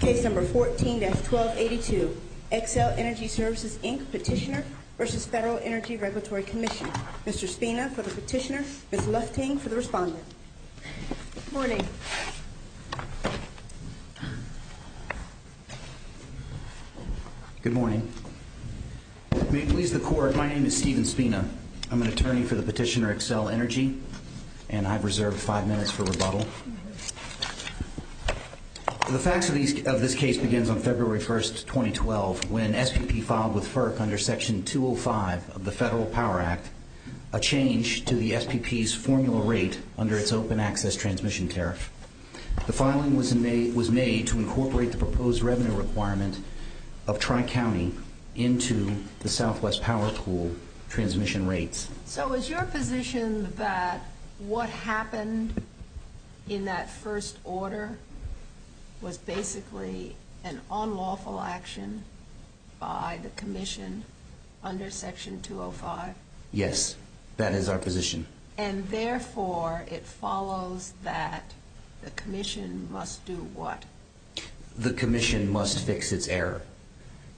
Case number 14-1282, Xcel Energy Services Inc. Petitioner v. Federal Energy Regulatory Commission. Mr. Spina for the petitioner, Ms. Lufting for the respondent. Good morning. Good morning. May it please the court, my name is Steven Spina. I'm an attorney for the petitioner, Xcel Energy, and I've reserved five minutes for rebuttal. The facts of this case begins on February 1, 2012, when SPP filed with FERC under Section 205 of the Federal Power Act, a change to the SPP's formula rate under its open access transmission tariff. The filing was made to incorporate the proposed revenue requirement of Tri-County into the Southwest Power Pool transmission rates. So is your position that what happened in that first order was basically an unlawful action by the Commission under Section 205? Yes, that is our position. And therefore, it follows that the Commission must do what? The Commission must fix its error.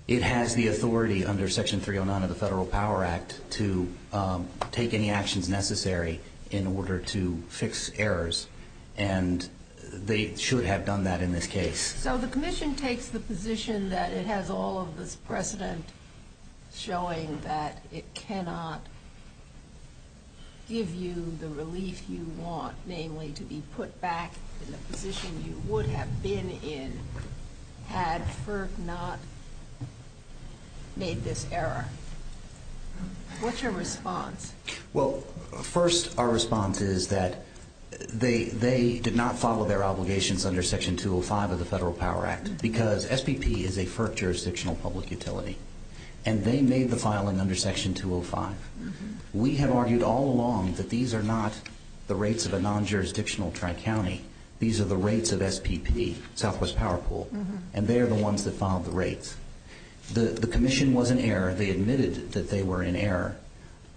It has the authority under Section 309 of the Federal Power Act to take any actions necessary in order to fix errors, and they should have done that in this case. So the Commission takes the position that it has all of this precedent showing that it cannot give you the relief you want, namely to be put back in the position you would have been in had FERC not made this error. What's your response? Well, first, our response is that they did not follow their obligations under Section 205 of the Federal Power Act because SPP is a FERC jurisdictional public utility, and they made the filing under Section 205. We have argued all along that these are not the rates of a non-jurisdictional Tri-County. These are the rates of SPP, Southwest Power Pool, and they are the ones that filed the rates. The Commission was in error. They admitted that they were in error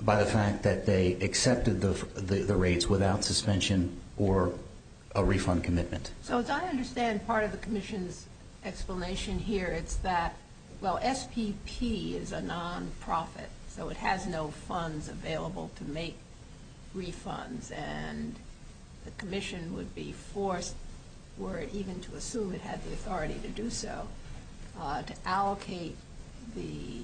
by the fact that they accepted the rates without suspension or a refund commitment. So as I understand part of the Commission's explanation here, it's that, well, SPP is a nonprofit, so it has no funds available to make refunds, and the Commission would be forced, were it even to assume it had the authority to do so, to allocate the,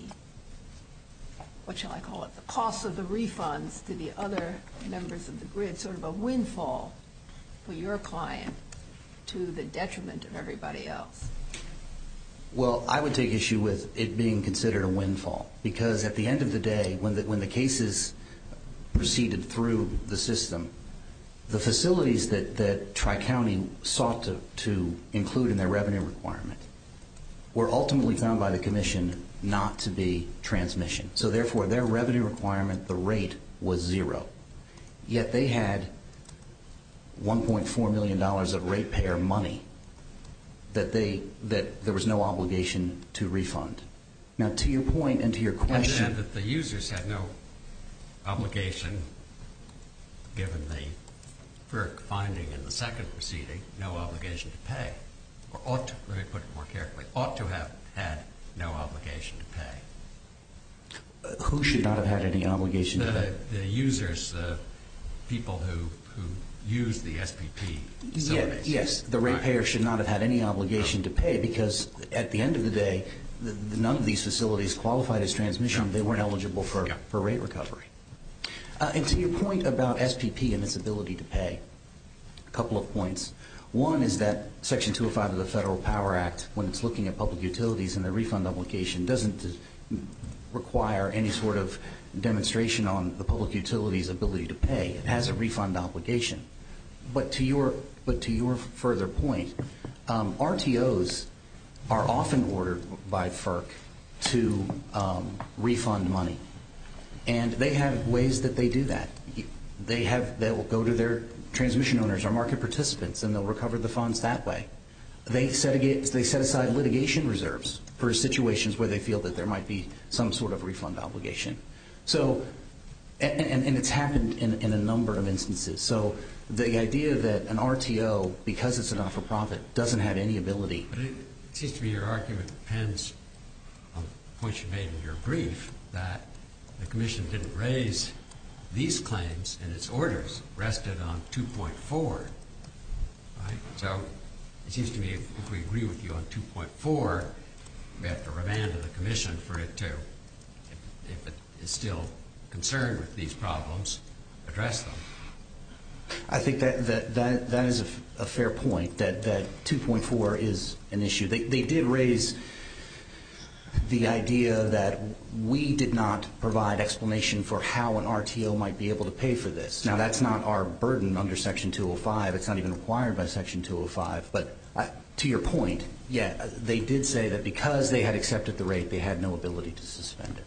what shall I call it, the cost of the refunds to the other members of the grid, sort of a windfall for your client to the detriment of everybody else. Well, I would take issue with it being considered a windfall because at the end of the day when the cases proceeded through the system, the facilities that Tri-County sought to include in their revenue requirement were ultimately found by the Commission not to be transmission. So therefore, their revenue requirement, the rate, was zero. Yet they had $1.4 million of ratepayer money that there was no obligation to refund. Now, to your point and to your question. I understand that the users had no obligation, given the FERC finding in the second proceeding, had no obligation to pay, or ought to, let me put it more carefully, ought to have had no obligation to pay. Who should not have had any obligation to pay? The users, the people who use the SPP facilities. Yes, the ratepayer should not have had any obligation to pay because at the end of the day, none of these facilities qualified as transmission. They weren't eligible for rate recovery. And to your point about SPP and its ability to pay, a couple of points. One is that Section 205 of the Federal Power Act, when it's looking at public utilities and the refund obligation, doesn't require any sort of demonstration on the public utility's ability to pay. It has a refund obligation. But to your further point, RTOs are often ordered by FERC to refund money. And they have ways that they do that. They will go to their transmission owners or market participants, and they'll recover the funds that way. They set aside litigation reserves for situations where they feel that there might be some sort of refund obligation. And it's happened in a number of instances. So the idea that an RTO, because it's a not-for-profit, doesn't have any ability. But it seems to me your argument depends on the point you made in your brief, that the Commission didn't raise these claims and its orders rested on 2.4. So it seems to me if we agree with you on 2.4, we have to remand to the Commission for it to, if it is still concerned with these problems, address them. I think that is a fair point, that 2.4 is an issue. They did raise the idea that we did not provide explanation for how an RTO might be able to pay for this. Now, that's not our burden under Section 205. It's not even required by Section 205. But to your point, yeah, they did say that because they had accepted the rate, they had no ability to suspend it.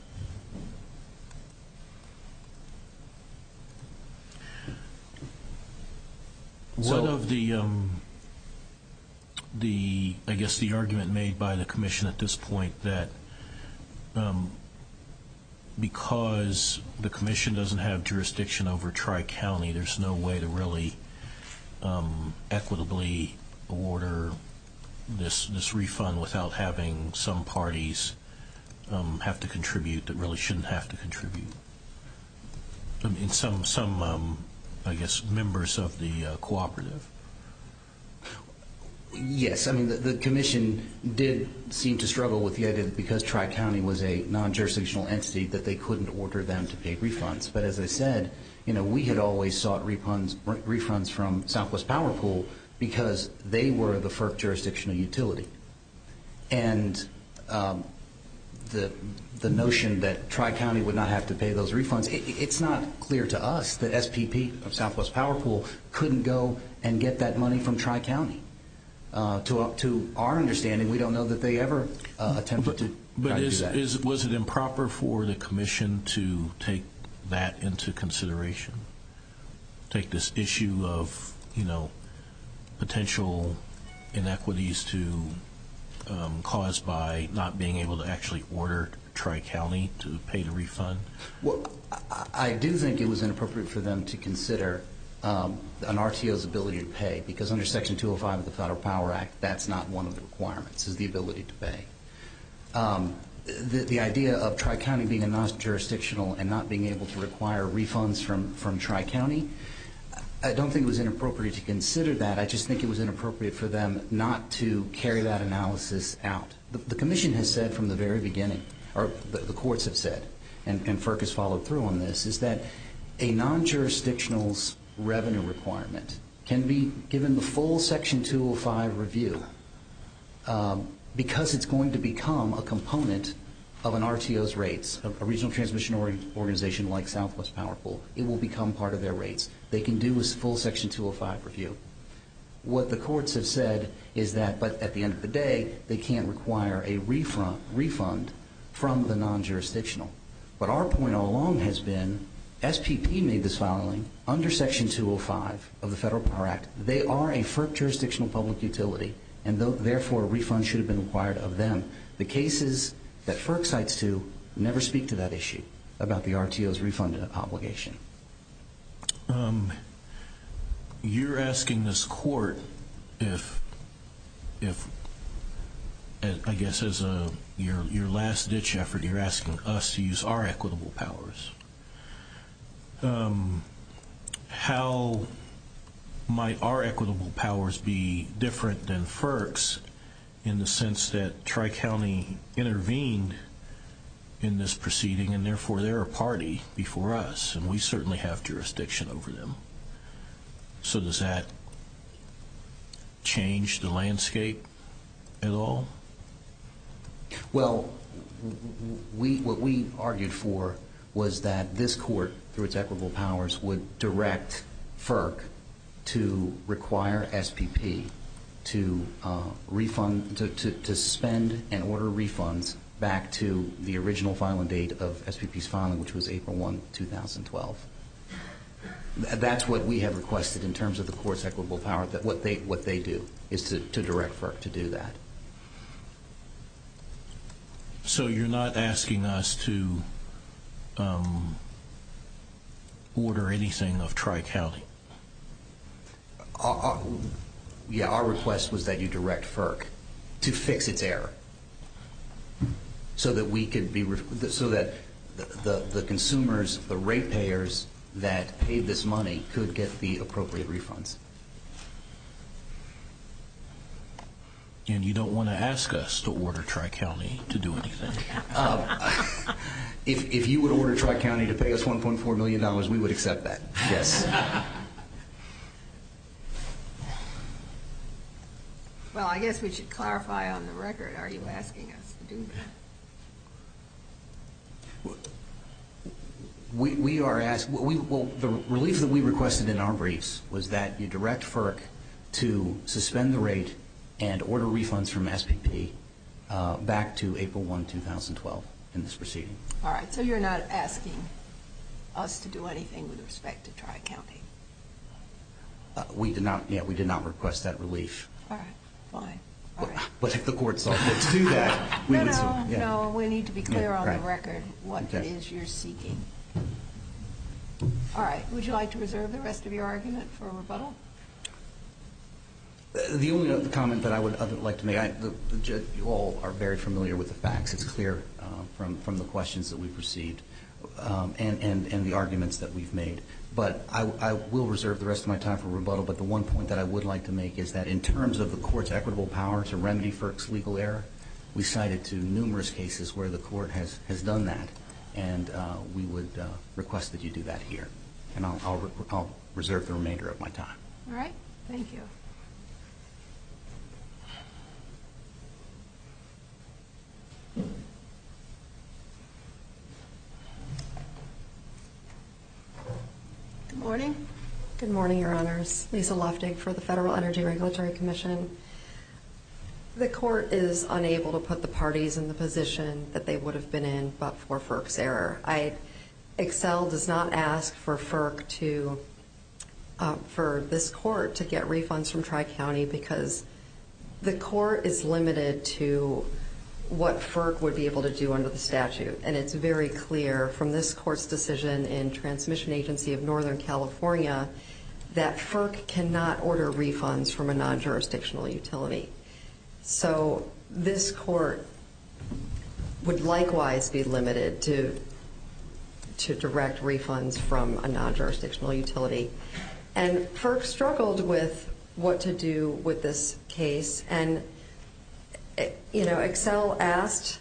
One of the, I guess the argument made by the Commission at this point, that because the Commission doesn't have jurisdiction over Tri-County, there's no way to really equitably order this refund without having some parties have to contribute that really shouldn't have to contribute. Some, I guess, members of the cooperative. Yes, the Commission did seem to struggle with the idea that because Tri-County was a non-jurisdictional entity, that they couldn't order them to pay refunds. But as I said, we had always sought refunds from Southwest Power Pool because they were the first jurisdictional utility. And the notion that Tri-County would not have to pay those refunds, it's not clear to us that SPP of Southwest Power Pool couldn't go and get that money from Tri-County. To our understanding, we don't know that they ever attempted to do that. Was it improper for the Commission to take that into consideration? Take this issue of potential inequities caused by not being able to actually order Tri-County to pay the refund? I do think it was inappropriate for them to consider an RTO's ability to pay, because under Section 205 of the Federal Power Act, that's not one of the requirements, is the ability to pay. The idea of Tri-County being a non-jurisdictional and not being able to require refunds from Tri-County, I don't think it was inappropriate to consider that. I just think it was inappropriate for them not to carry that analysis out. The Commission has said from the very beginning, or the courts have said, and FERC has followed through on this, is that a non-jurisdictional's revenue requirement can be given the full Section 205 review because it's going to become a component of an RTO's rates. A regional transmission organization like Southwest Power Pool, it will become part of their rates. They can do a full Section 205 review. What the courts have said is that, but at the end of the day, they can't require a refund from the non-jurisdictional. But our point all along has been, SPP made this following, under Section 205 of the Federal Power Act, they are a FERC jurisdictional public utility, and therefore a refund should have been required of them. The cases that FERC cites to never speak to that issue about the RTO's refund obligation. You're asking this court if, I guess as your last ditch effort, you're asking us to use our equitable powers. How might our equitable powers be different than FERC's in the sense that Tri-County intervened in this proceeding, and therefore they're a party before us, and we certainly have jurisdiction over them. So does that change the landscape at all? Well, what we argued for was that this court, through its equitable powers, would direct FERC to require SPP to spend and order refunds back to the original filing date of SPP's filing, which was April 1, 2012. That's what we have requested in terms of the court's equitable power, that what they do is to direct FERC to do that. So you're not asking us to order anything of Tri-County? Yeah, our request was that you direct FERC to fix its error so that the consumers, the rate payers that paid this money, could get the appropriate refunds. And you don't want to ask us to order Tri-County to do anything? If you would order Tri-County to pay us $1.4 million, we would accept that, yes. Well, I guess we should clarify on the record, are you asking us to do that? We are asking, well, the relief that we requested in our briefs was that you direct FERC to suspend the rate and order refunds from SPP back to April 1, 2012 in this proceeding. All right, so you're not asking us to do anything with respect to Tri-County? We did not request that relief. All right, fine. No, no, no, we need to be clear on the record what it is you're seeking. All right, would you like to reserve the rest of your argument for rebuttal? The only comment that I would like to make, you all are very familiar with the facts. It's clear from the questions that we've received and the arguments that we've made. But I will reserve the rest of my time for rebuttal. But the one point that I would like to make is that in terms of the court's equitable power to remedy FERC's legal error, we cited to numerous cases where the court has done that, and we would request that you do that here. And I'll reserve the remainder of my time. All right, thank you. Good morning. Good morning, Your Honors. Lisa Loftig for the Federal Energy Regulatory Commission. The court is unable to put the parties in the position that they would have been in but for FERC's error. EXCEL does not ask for FERC to, for this court to get refunds from Tri-County because the court is limited to what FERC would be able to do under the statute. And it's very clear from this court's decision in Transmission Agency of Northern California that FERC cannot order refunds from a non-jurisdictional utility. So this court would likewise be limited to direct refunds from a non-jurisdictional utility. And FERC struggled with what to do with this case. And, you know, EXCEL asked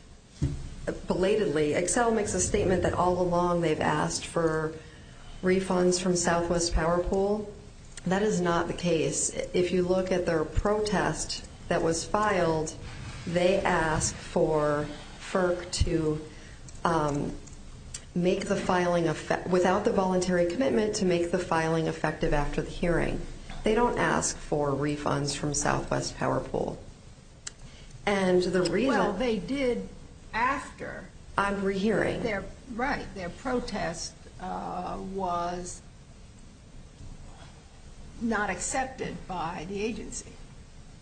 belatedly. EXCEL makes a statement that all along they've asked for refunds from Southwest Power Pool. That is not the case. If you look at their protest that was filed, they asked for FERC to make the filing, without the voluntary commitment, to make the filing effective after the hearing. They don't ask for refunds from Southwest Power Pool. Well, they did after. On rehearing. Right. Their protest was not accepted by the agency.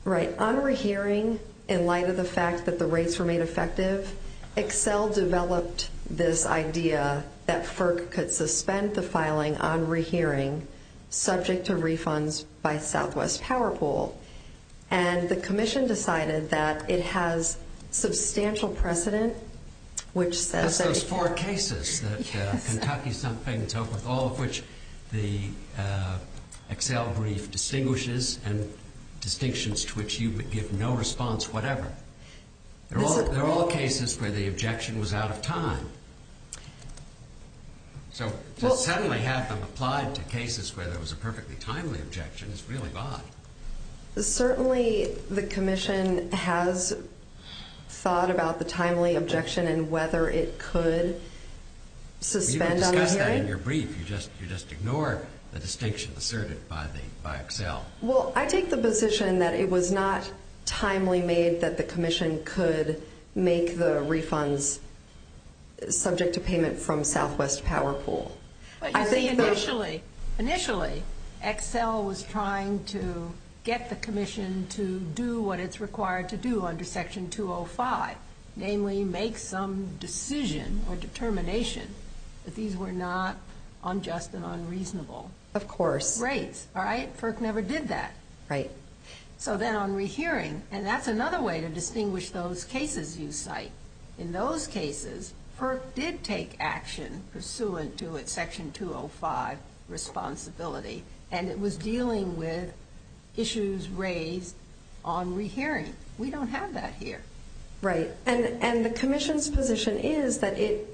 Right. On rehearing, in light of the fact that the rates were made effective, EXCEL developed this idea that FERC could suspend the filing on rehearing subject to refunds by Southwest Power Pool. And the commission decided that it has substantial precedent, which says that... That's those four cases that Kentucky's not paying attention to, with all of which the EXCEL brief distinguishes and distinctions to which you give no response whatever. They're all cases where the objection was out of time. So to suddenly have them applied to cases where there was a perfectly timely objection is really odd. Certainly the commission has thought about the timely objection and whether it could suspend on the hearing. You discussed that in your brief. You just ignored the distinction asserted by EXCEL. Well, I take the position that it was not timely made that the commission could make the refunds subject to payment from Southwest Power Pool. Initially, EXCEL was trying to get the commission to do what it's required to do under Section 205, namely make some decision or determination that these were not unjust and unreasonable rates. Of course. All right? FERC never did that. Right. So then on rehearing, and that's another way to distinguish those cases you cite. In those cases, FERC did take action pursuant to its Section 205 responsibility, and it was dealing with issues raised on rehearing. We don't have that here. Right. And the commission's position is that it,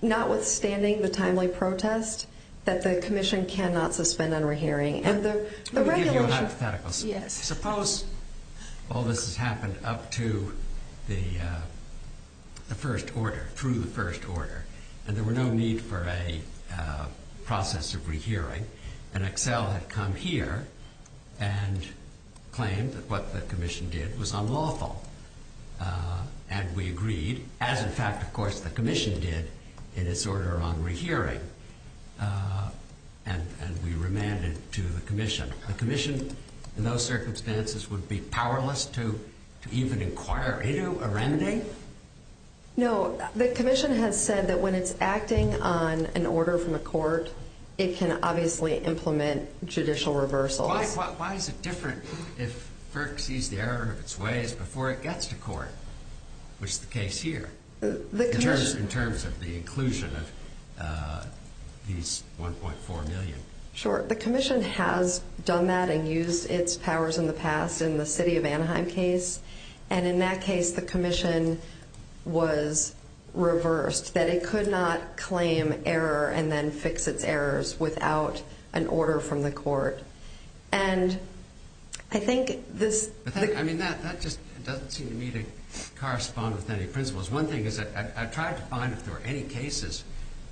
notwithstanding the timely protest, that the commission cannot suspend on rehearing. Let me give you a hypothetical. Yes. Suppose all this has happened up to the first order, through the first order, and there were no need for a process of rehearing, and EXCEL had come here and claimed that what the commission did was unlawful. And we agreed, as in fact, of course, the commission did in its order on rehearing, and we remanded to the commission. The commission, in those circumstances, would be powerless to even inquire. Ito? Arendi? No. The commission has said that when it's acting on an order from a court, it can obviously implement judicial reversals. Why is it different if FERC sees the error of its ways before it gets to court, which is the case here, in terms of the inclusion of these $1.4 million? Sure. The commission has done that and used its powers in the past in the city of Anaheim case, and in that case the commission was reversed, that it could not claim error and then fix its errors without an order from the court. And I think this— I mean, that just doesn't seem to me to correspond with any principles. One thing is that I tried to find if there were any cases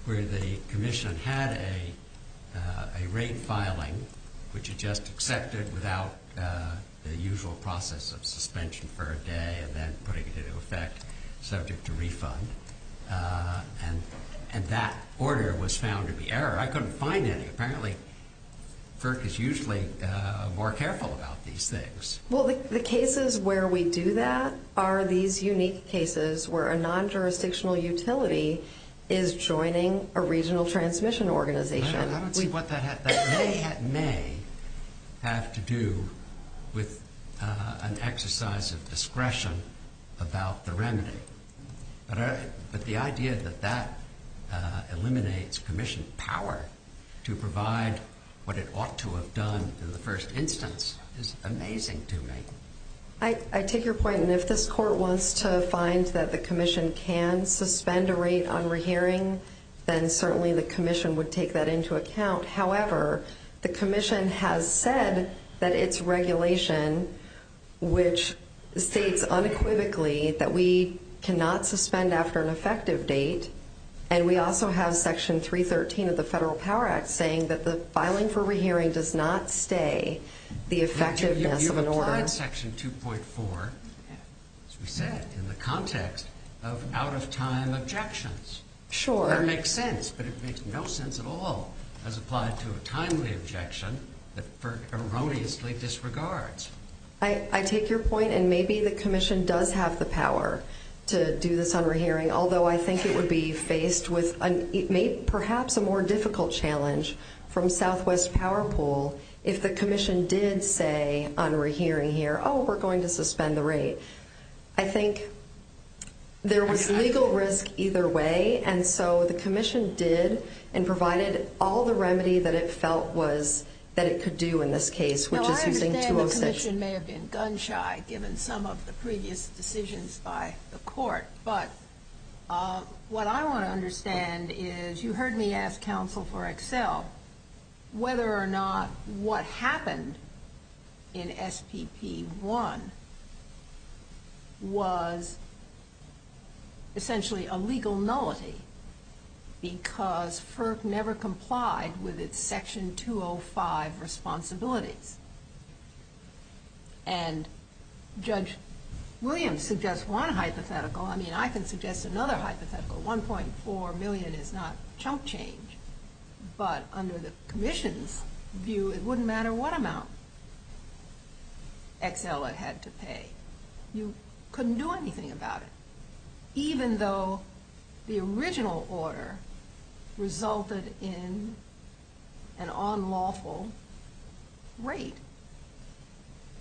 where the commission had a rate filing, which it just accepted without the usual process of suspension for a day and then putting it into effect subject to refund, and that order was found to be error. I couldn't find any. Apparently FERC is usually more careful about these things. Well, the cases where we do that are these unique cases where a non-jurisdictional utility is joining a regional transmission organization. I don't see what that may have to do with an exercise of discretion about the remedy. But the idea that that eliminates commission power to provide what it ought to have done in the first instance is amazing to me. I take your point, and if this court wants to find that the commission can suspend a rate on rehearing, then certainly the commission would take that into account. However, the commission has said that its regulation, which states unequivocally that we cannot suspend after an effective date, and we also have Section 313 of the Federal Power Act saying that the filing for rehearing does not stay the effectiveness of an order. You've applied Section 2.4, as we said, in the context of out-of-time objections. Sure. That makes sense, but it makes no sense at all as applied to a timely objection that FERC erroneously disregards. I take your point, and maybe the commission does have the power to do this on rehearing, although I think it would be faced with perhaps a more difficult challenge from Southwest Power Pool if the commission did say on rehearing here, oh, we're going to suspend the rate. I think there was legal risk either way, and so the commission did and provided all the remedy that it felt that it could do in this case, which is using 206. Now, I understand the commission may have been gun-shy given some of the previous decisions by the court, but what I want to understand is you heard me ask counsel for Excel whether or not what happened in SPP 1 was essentially a legal nullity because FERC never complied with its Section 205 responsibilities. And Judge Williams suggests one hypothetical. I mean, I can suggest another hypothetical. 1.4 million is not chunk change, but under the commission's view, it wouldn't matter what amount Excel had had to pay. You couldn't do anything about it, even though the original order resulted in an unlawful rate.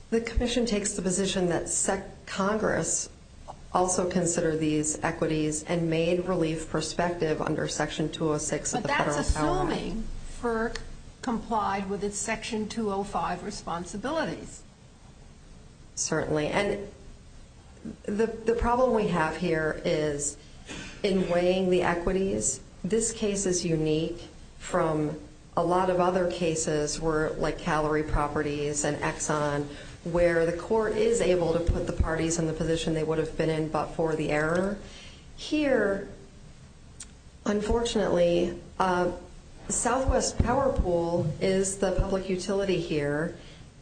The commission takes the position that Congress also considered these equities and made relief prospective under Section 206 of the Federal Power Act. But that's assuming FERC complied with its Section 205 responsibilities. Certainly. And the problem we have here is in weighing the equities, this case is unique from a lot of other cases where, like Calorie Properties and Exxon, where the court is able to put the parties in the position they would have been in but for the error. Here, unfortunately, Southwest Power Pool is the public utility here,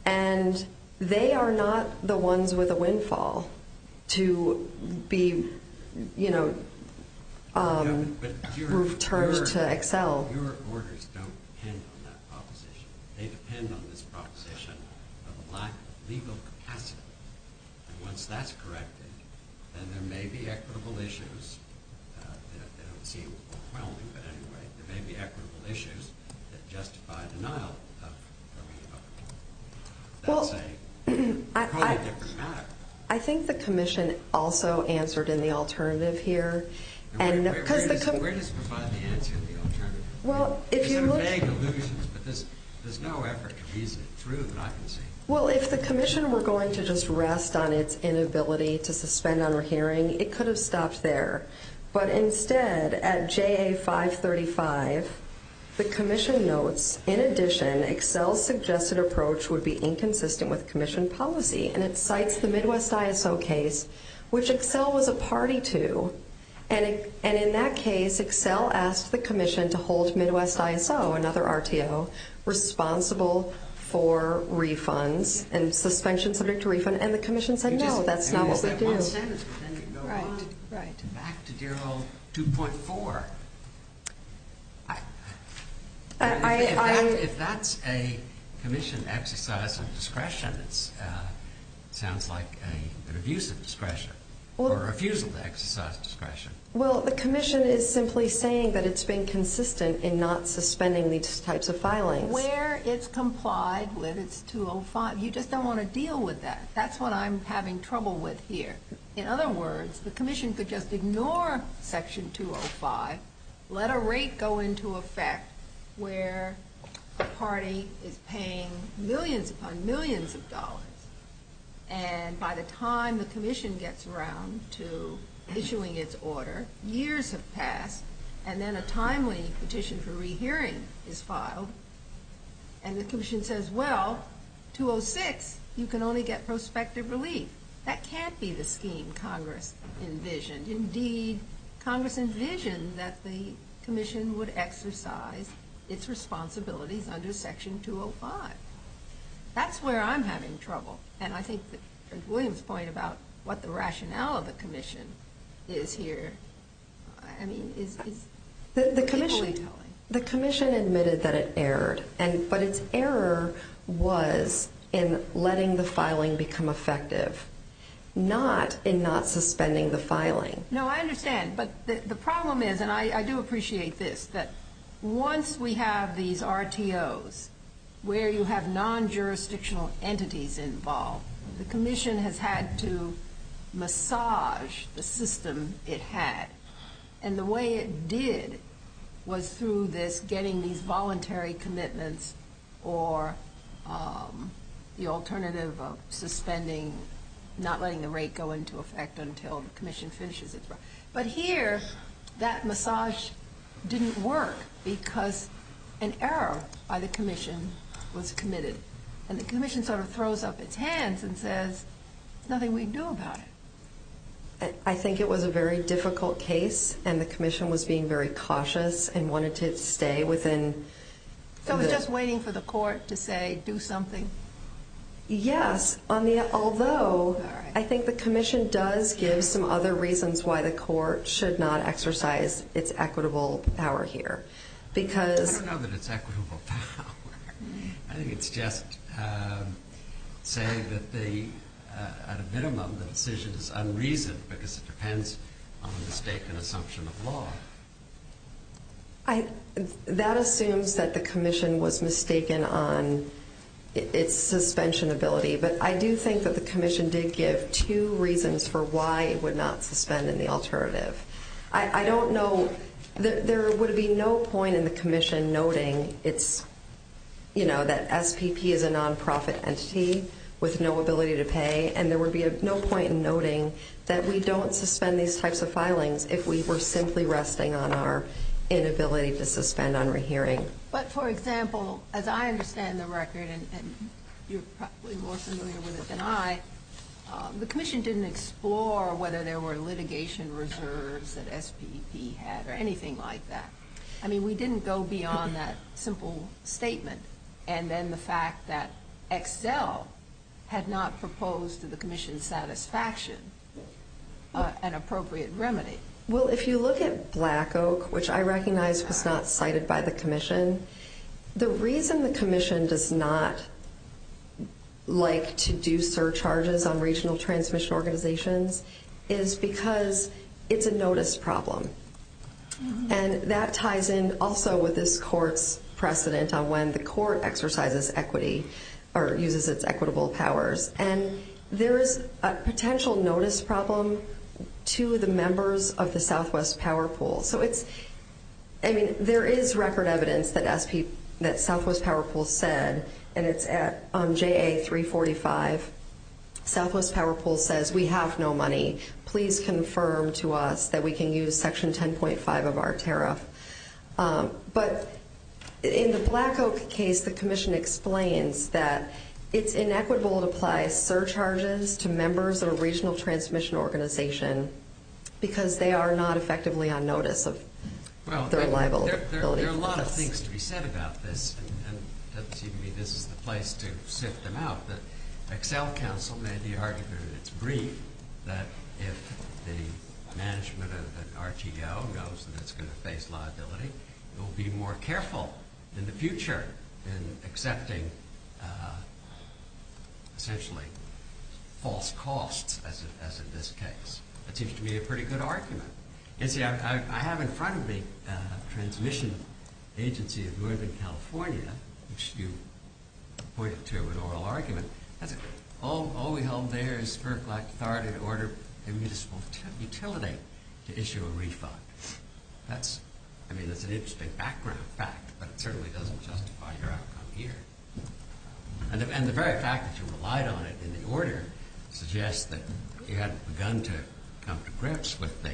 and they are not the ones with a windfall to be, you know, turned to Excel. Your orders don't depend on that proposition. They depend on this proposition of a lack of legal capacity. And once that's corrected, then there may be equitable issues that justify denial of Calorie Properties. That's quite a different matter. I think the commission also answered in the alternative here. Where does it provide the answer in the alternative? There's some vague illusions, but there's no effort to reason it through that I can see. Well, if the commission were going to just rest on its inability to suspend our hearing, it could have stopped there. But instead, at JA 535, the commission notes, in addition, Excel's suggested approach would be inconsistent with commission policy. And it cites the Midwest ISO case, which Excel was a party to. And in that case, Excel asked the commission to hold Midwest ISO, another RTO, responsible for refunds and suspension subject to refund. And the commission said, no, that's not what we do. Back to Darrell 2.4. If that's a commission exercise of discretion, it sounds like an abuse of discretion or refusal to exercise discretion. Well, the commission is simply saying that it's been consistent in not suspending these types of filings. Where it's complied with, it's 205. You just don't want to deal with that. That's what I'm having trouble with here. In other words, the commission could just ignore Section 205, let a rate go into effect where a party is paying millions upon millions of dollars. And by the time the commission gets around to issuing its order, years have passed, and then a timely petition for rehearing is filed. And the commission says, well, 206, you can only get prospective relief. That can't be the scheme Congress envisioned. Indeed, Congress envisioned that the commission would exercise its responsibilities under Section 205. That's where I'm having trouble. And I think that William's point about what the rationale of the commission is here, I mean, is equally telling. The commission admitted that it erred, but its error was in letting the filing become effective, not in not suspending the filing. No, I understand. But the problem is, and I do appreciate this, that once we have these RTOs where you have non-jurisdictional entities involved, the commission has had to massage the system it had. And the way it did was through this getting these voluntary commitments or the alternative of suspending, not letting the rate go into effect until the commission finishes its work. But here, that massage didn't work because an error by the commission was committed. And the commission sort of throws up its hands and says, there's nothing we can do about it. I think it was a very difficult case, and the commission was being very cautious and wanted to stay within. So it was just waiting for the court to say, do something? Yes, although I think the commission does give some other reasons why the court should not exercise its equitable power here. I don't know that it's equitable power. I think it's just saying that at a minimum, the decision is unreasoned because it depends on a mistaken assumption of law. That assumes that the commission was mistaken on its suspension ability. But I do think that the commission did give two reasons for why it would not suspend in the alternative. I don't know, there would be no point in the commission noting that SPP is a non-profit entity with no ability to pay. And there would be no point in noting that we don't suspend these types of filings if we were simply resting on our inability to suspend on rehearing. But, for example, as I understand the record, and you're probably more familiar with it than I, the commission didn't explore whether there were litigation reserves that SPP had or anything like that. I mean, we didn't go beyond that simple statement and then the fact that Excel had not proposed to the commission satisfaction an appropriate remedy. Well, if you look at Black Oak, which I recognize was not cited by the commission, the reason the commission does not like to do surcharges on regional transmission organizations is because it's a notice problem. And that ties in also with this court's precedent on when the court exercises equity or uses its equitable powers. And there is a potential notice problem to the members of the Southwest Power Pool. So it's, I mean, there is record evidence that Southwest Power Pool said, and it's at JA-345, Southwest Power Pool says we have no money. Please confirm to us that we can use Section 10.5 of our tariff. But in the Black Oak case, the commission explains that it's inequitable to apply surcharges to members of a regional transmission organization because they are not effectively on notice of their liability. There are a lot of things to be said about this, and it doesn't seem to me this is the place to sift them out. Excel Council made the argument in its brief that if the management of an RTO knows that it's going to face liability, it will be more careful in the future in accepting essentially false costs, as in this case. That seems to me a pretty good argument. You see, I have in front of me a transmission agency of Northern California, which you pointed to in oral argument. That's it. All we hold there is fair authority to order a municipal utility to issue a refund. That's, I mean, that's an interesting background fact, but it certainly doesn't justify your outcome here. And the very fact that you relied on it in the order suggests that you had begun to come to grips with the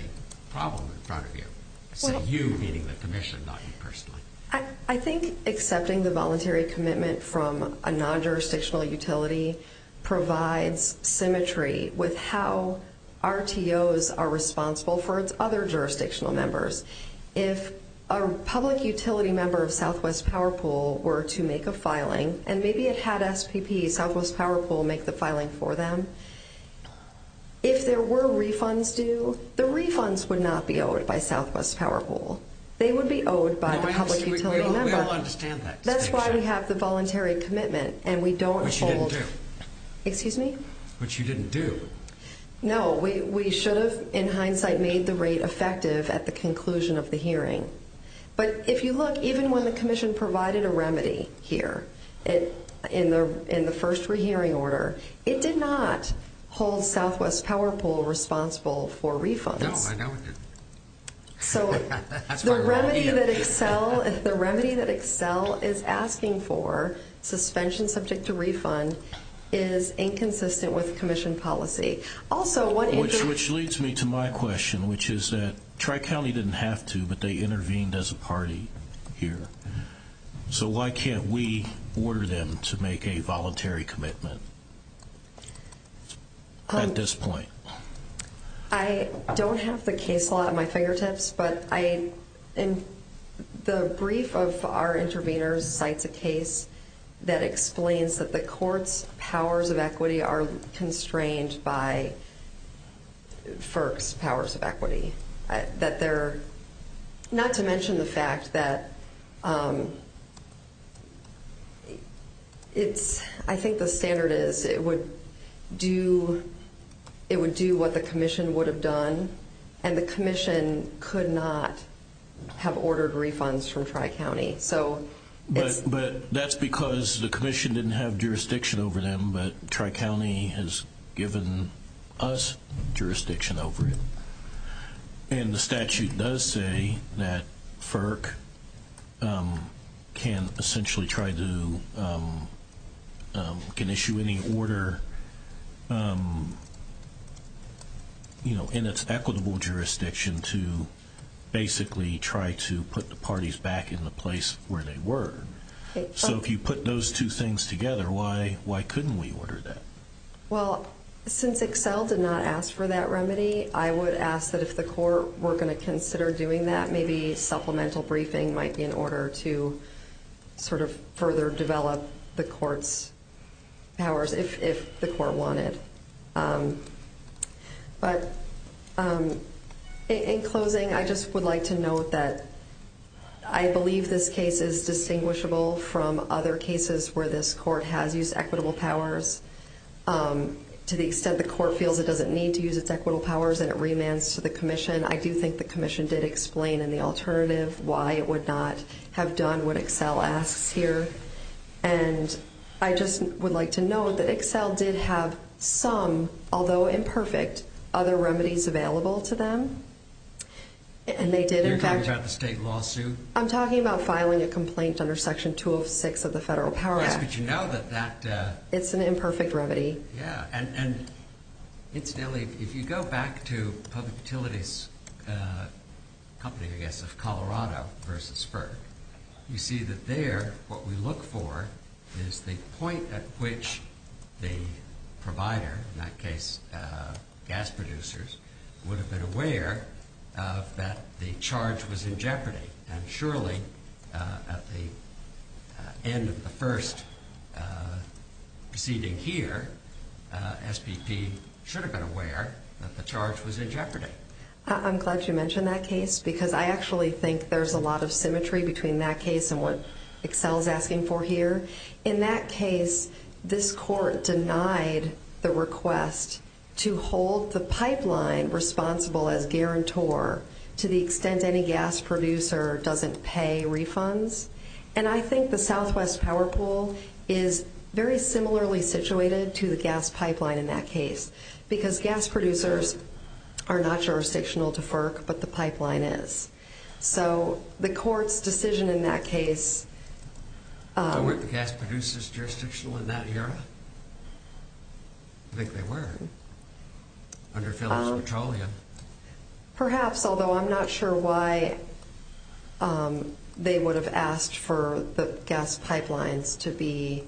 problem in front of you. You, meaning the commission, not you personally. I think accepting the voluntary commitment from a non-jurisdictional utility provides symmetry with how RTOs are responsible for its other jurisdictional members. If a public utility member of Southwest Power Pool were to make a filing, and maybe it had SPP, Southwest Power Pool, make the filing for them, if there were refunds due, the refunds would not be owed by Southwest Power Pool. They would be owed by the public utility member. We all understand that. That's why we have the voluntary commitment, and we don't hold. Which you didn't do. Excuse me? Which you didn't do. No, we should have, in hindsight, made the rate effective at the conclusion of the hearing. But if you look, even when the commission provided a remedy here in the first re-hearing order, it did not hold Southwest Power Pool responsible for refunds. No, I know it didn't. So the remedy that Excel is asking for, suspension subject to refund, is inconsistent with commission policy. Which leads me to my question, which is that Tri-County didn't have to, but they intervened as a party here. So why can't we order them to make a voluntary commitment at this point? I don't have the case law at my fingertips, but the brief of our interveners cites a case that explains that the court's powers of equity are constrained by FERC's powers of equity. Not to mention the fact that I think the standard is it would do what the commission would have done, and the commission could not have ordered refunds from Tri-County. But that's because the commission didn't have jurisdiction over them, but Tri-County has given us jurisdiction over it. And the statute does say that FERC can essentially try to issue any order in its equitable jurisdiction to basically try to put the parties back in the place where they were. So if you put those two things together, why couldn't we order that? Well, since Excel did not ask for that remedy, I would ask that if the court were going to consider doing that, maybe supplemental briefing might be in order to sort of further develop the court's powers if the court wanted. But in closing, I just would like to note that I believe this case is distinguishable from other cases where this court has used equitable powers. To the extent the court feels it doesn't need to use its equitable powers and it remands to the commission, I do think the commission did explain in the alternative why it would not have done what Excel asks here. And I just would like to note that Excel did have some, although imperfect, other remedies available to them, and they did in fact... You're talking about the state lawsuit? I'm talking about filing a complaint under Section 206 of the Federal Power Act. Yes, but you know that that... It's an imperfect remedy. Yeah, and incidentally, if you go back to Public Utilities Company, I guess, of Colorado versus FERC, you see that there what we look for is the point at which the provider, in that case gas producers, would have been aware that the charge was in jeopardy. And surely, at the end of the first proceeding here, SPP should have been aware that the charge was in jeopardy. I'm glad you mentioned that case because I actually think there's a lot of symmetry between that case and what Excel is asking for here. In that case, this court denied the request to hold the pipeline responsible as guarantor to the extent any gas producer doesn't pay refunds. And I think the Southwest Power Pool is very similarly situated to the gas pipeline in that case because gas producers are not jurisdictional to FERC, but the pipeline is. So the court's decision in that case... Weren't the gas producers jurisdictional in that era? I think they were, under Phillips Petroleum. Perhaps, although I'm not sure why they would have asked for the gas pipelines to be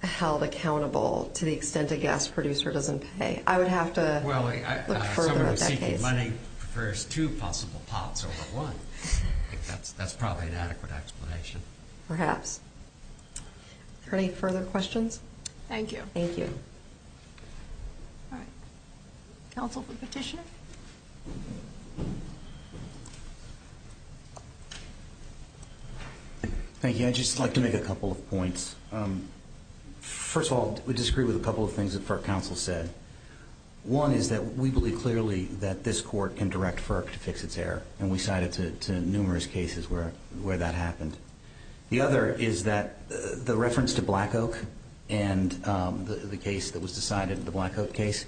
held accountable to the extent a gas producer doesn't pay. I think the money prefers two possible pots over one. That's probably an adequate explanation. Perhaps. Are there any further questions? Thank you. Thank you. All right. Counsel for petition? Thank you. I'd just like to make a couple of points. First of all, I would disagree with a couple of things that FERC counsel said. One is that we believe clearly that this court can direct FERC to fix its error, and we cited to numerous cases where that happened. The other is that the reference to Black Oak and the case that was decided, the Black Oak case,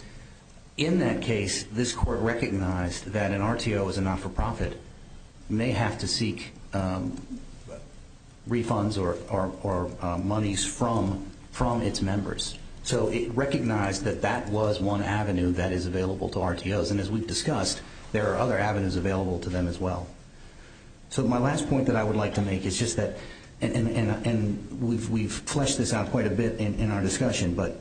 in that case, this court recognized that an RTO as a not-for-profit may have to seek refunds or monies from its members. So it recognized that that was one avenue that is available to RTOs, and as we've discussed, there are other avenues available to them as well. So my last point that I would like to make is just that, and we've fleshed this out quite a bit in our discussion, but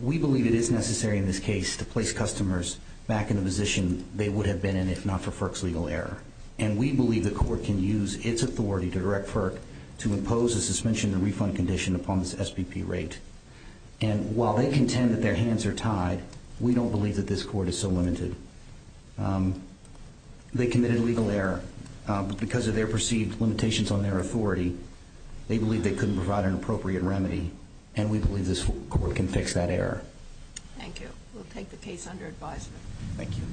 we believe it is necessary in this case to place customers back in the position they would have been in if not for FERC's legal error. And we believe the court can use its authority to direct FERC to impose a suspension and refund condition upon this SPP rate. And while they contend that their hands are tied, we don't believe that this court is so limited. They committed a legal error because of their perceived limitations on their authority. They believe they couldn't provide an appropriate remedy, and we believe this court can fix that error. Thank you. We'll take the case under advisement. Thank you.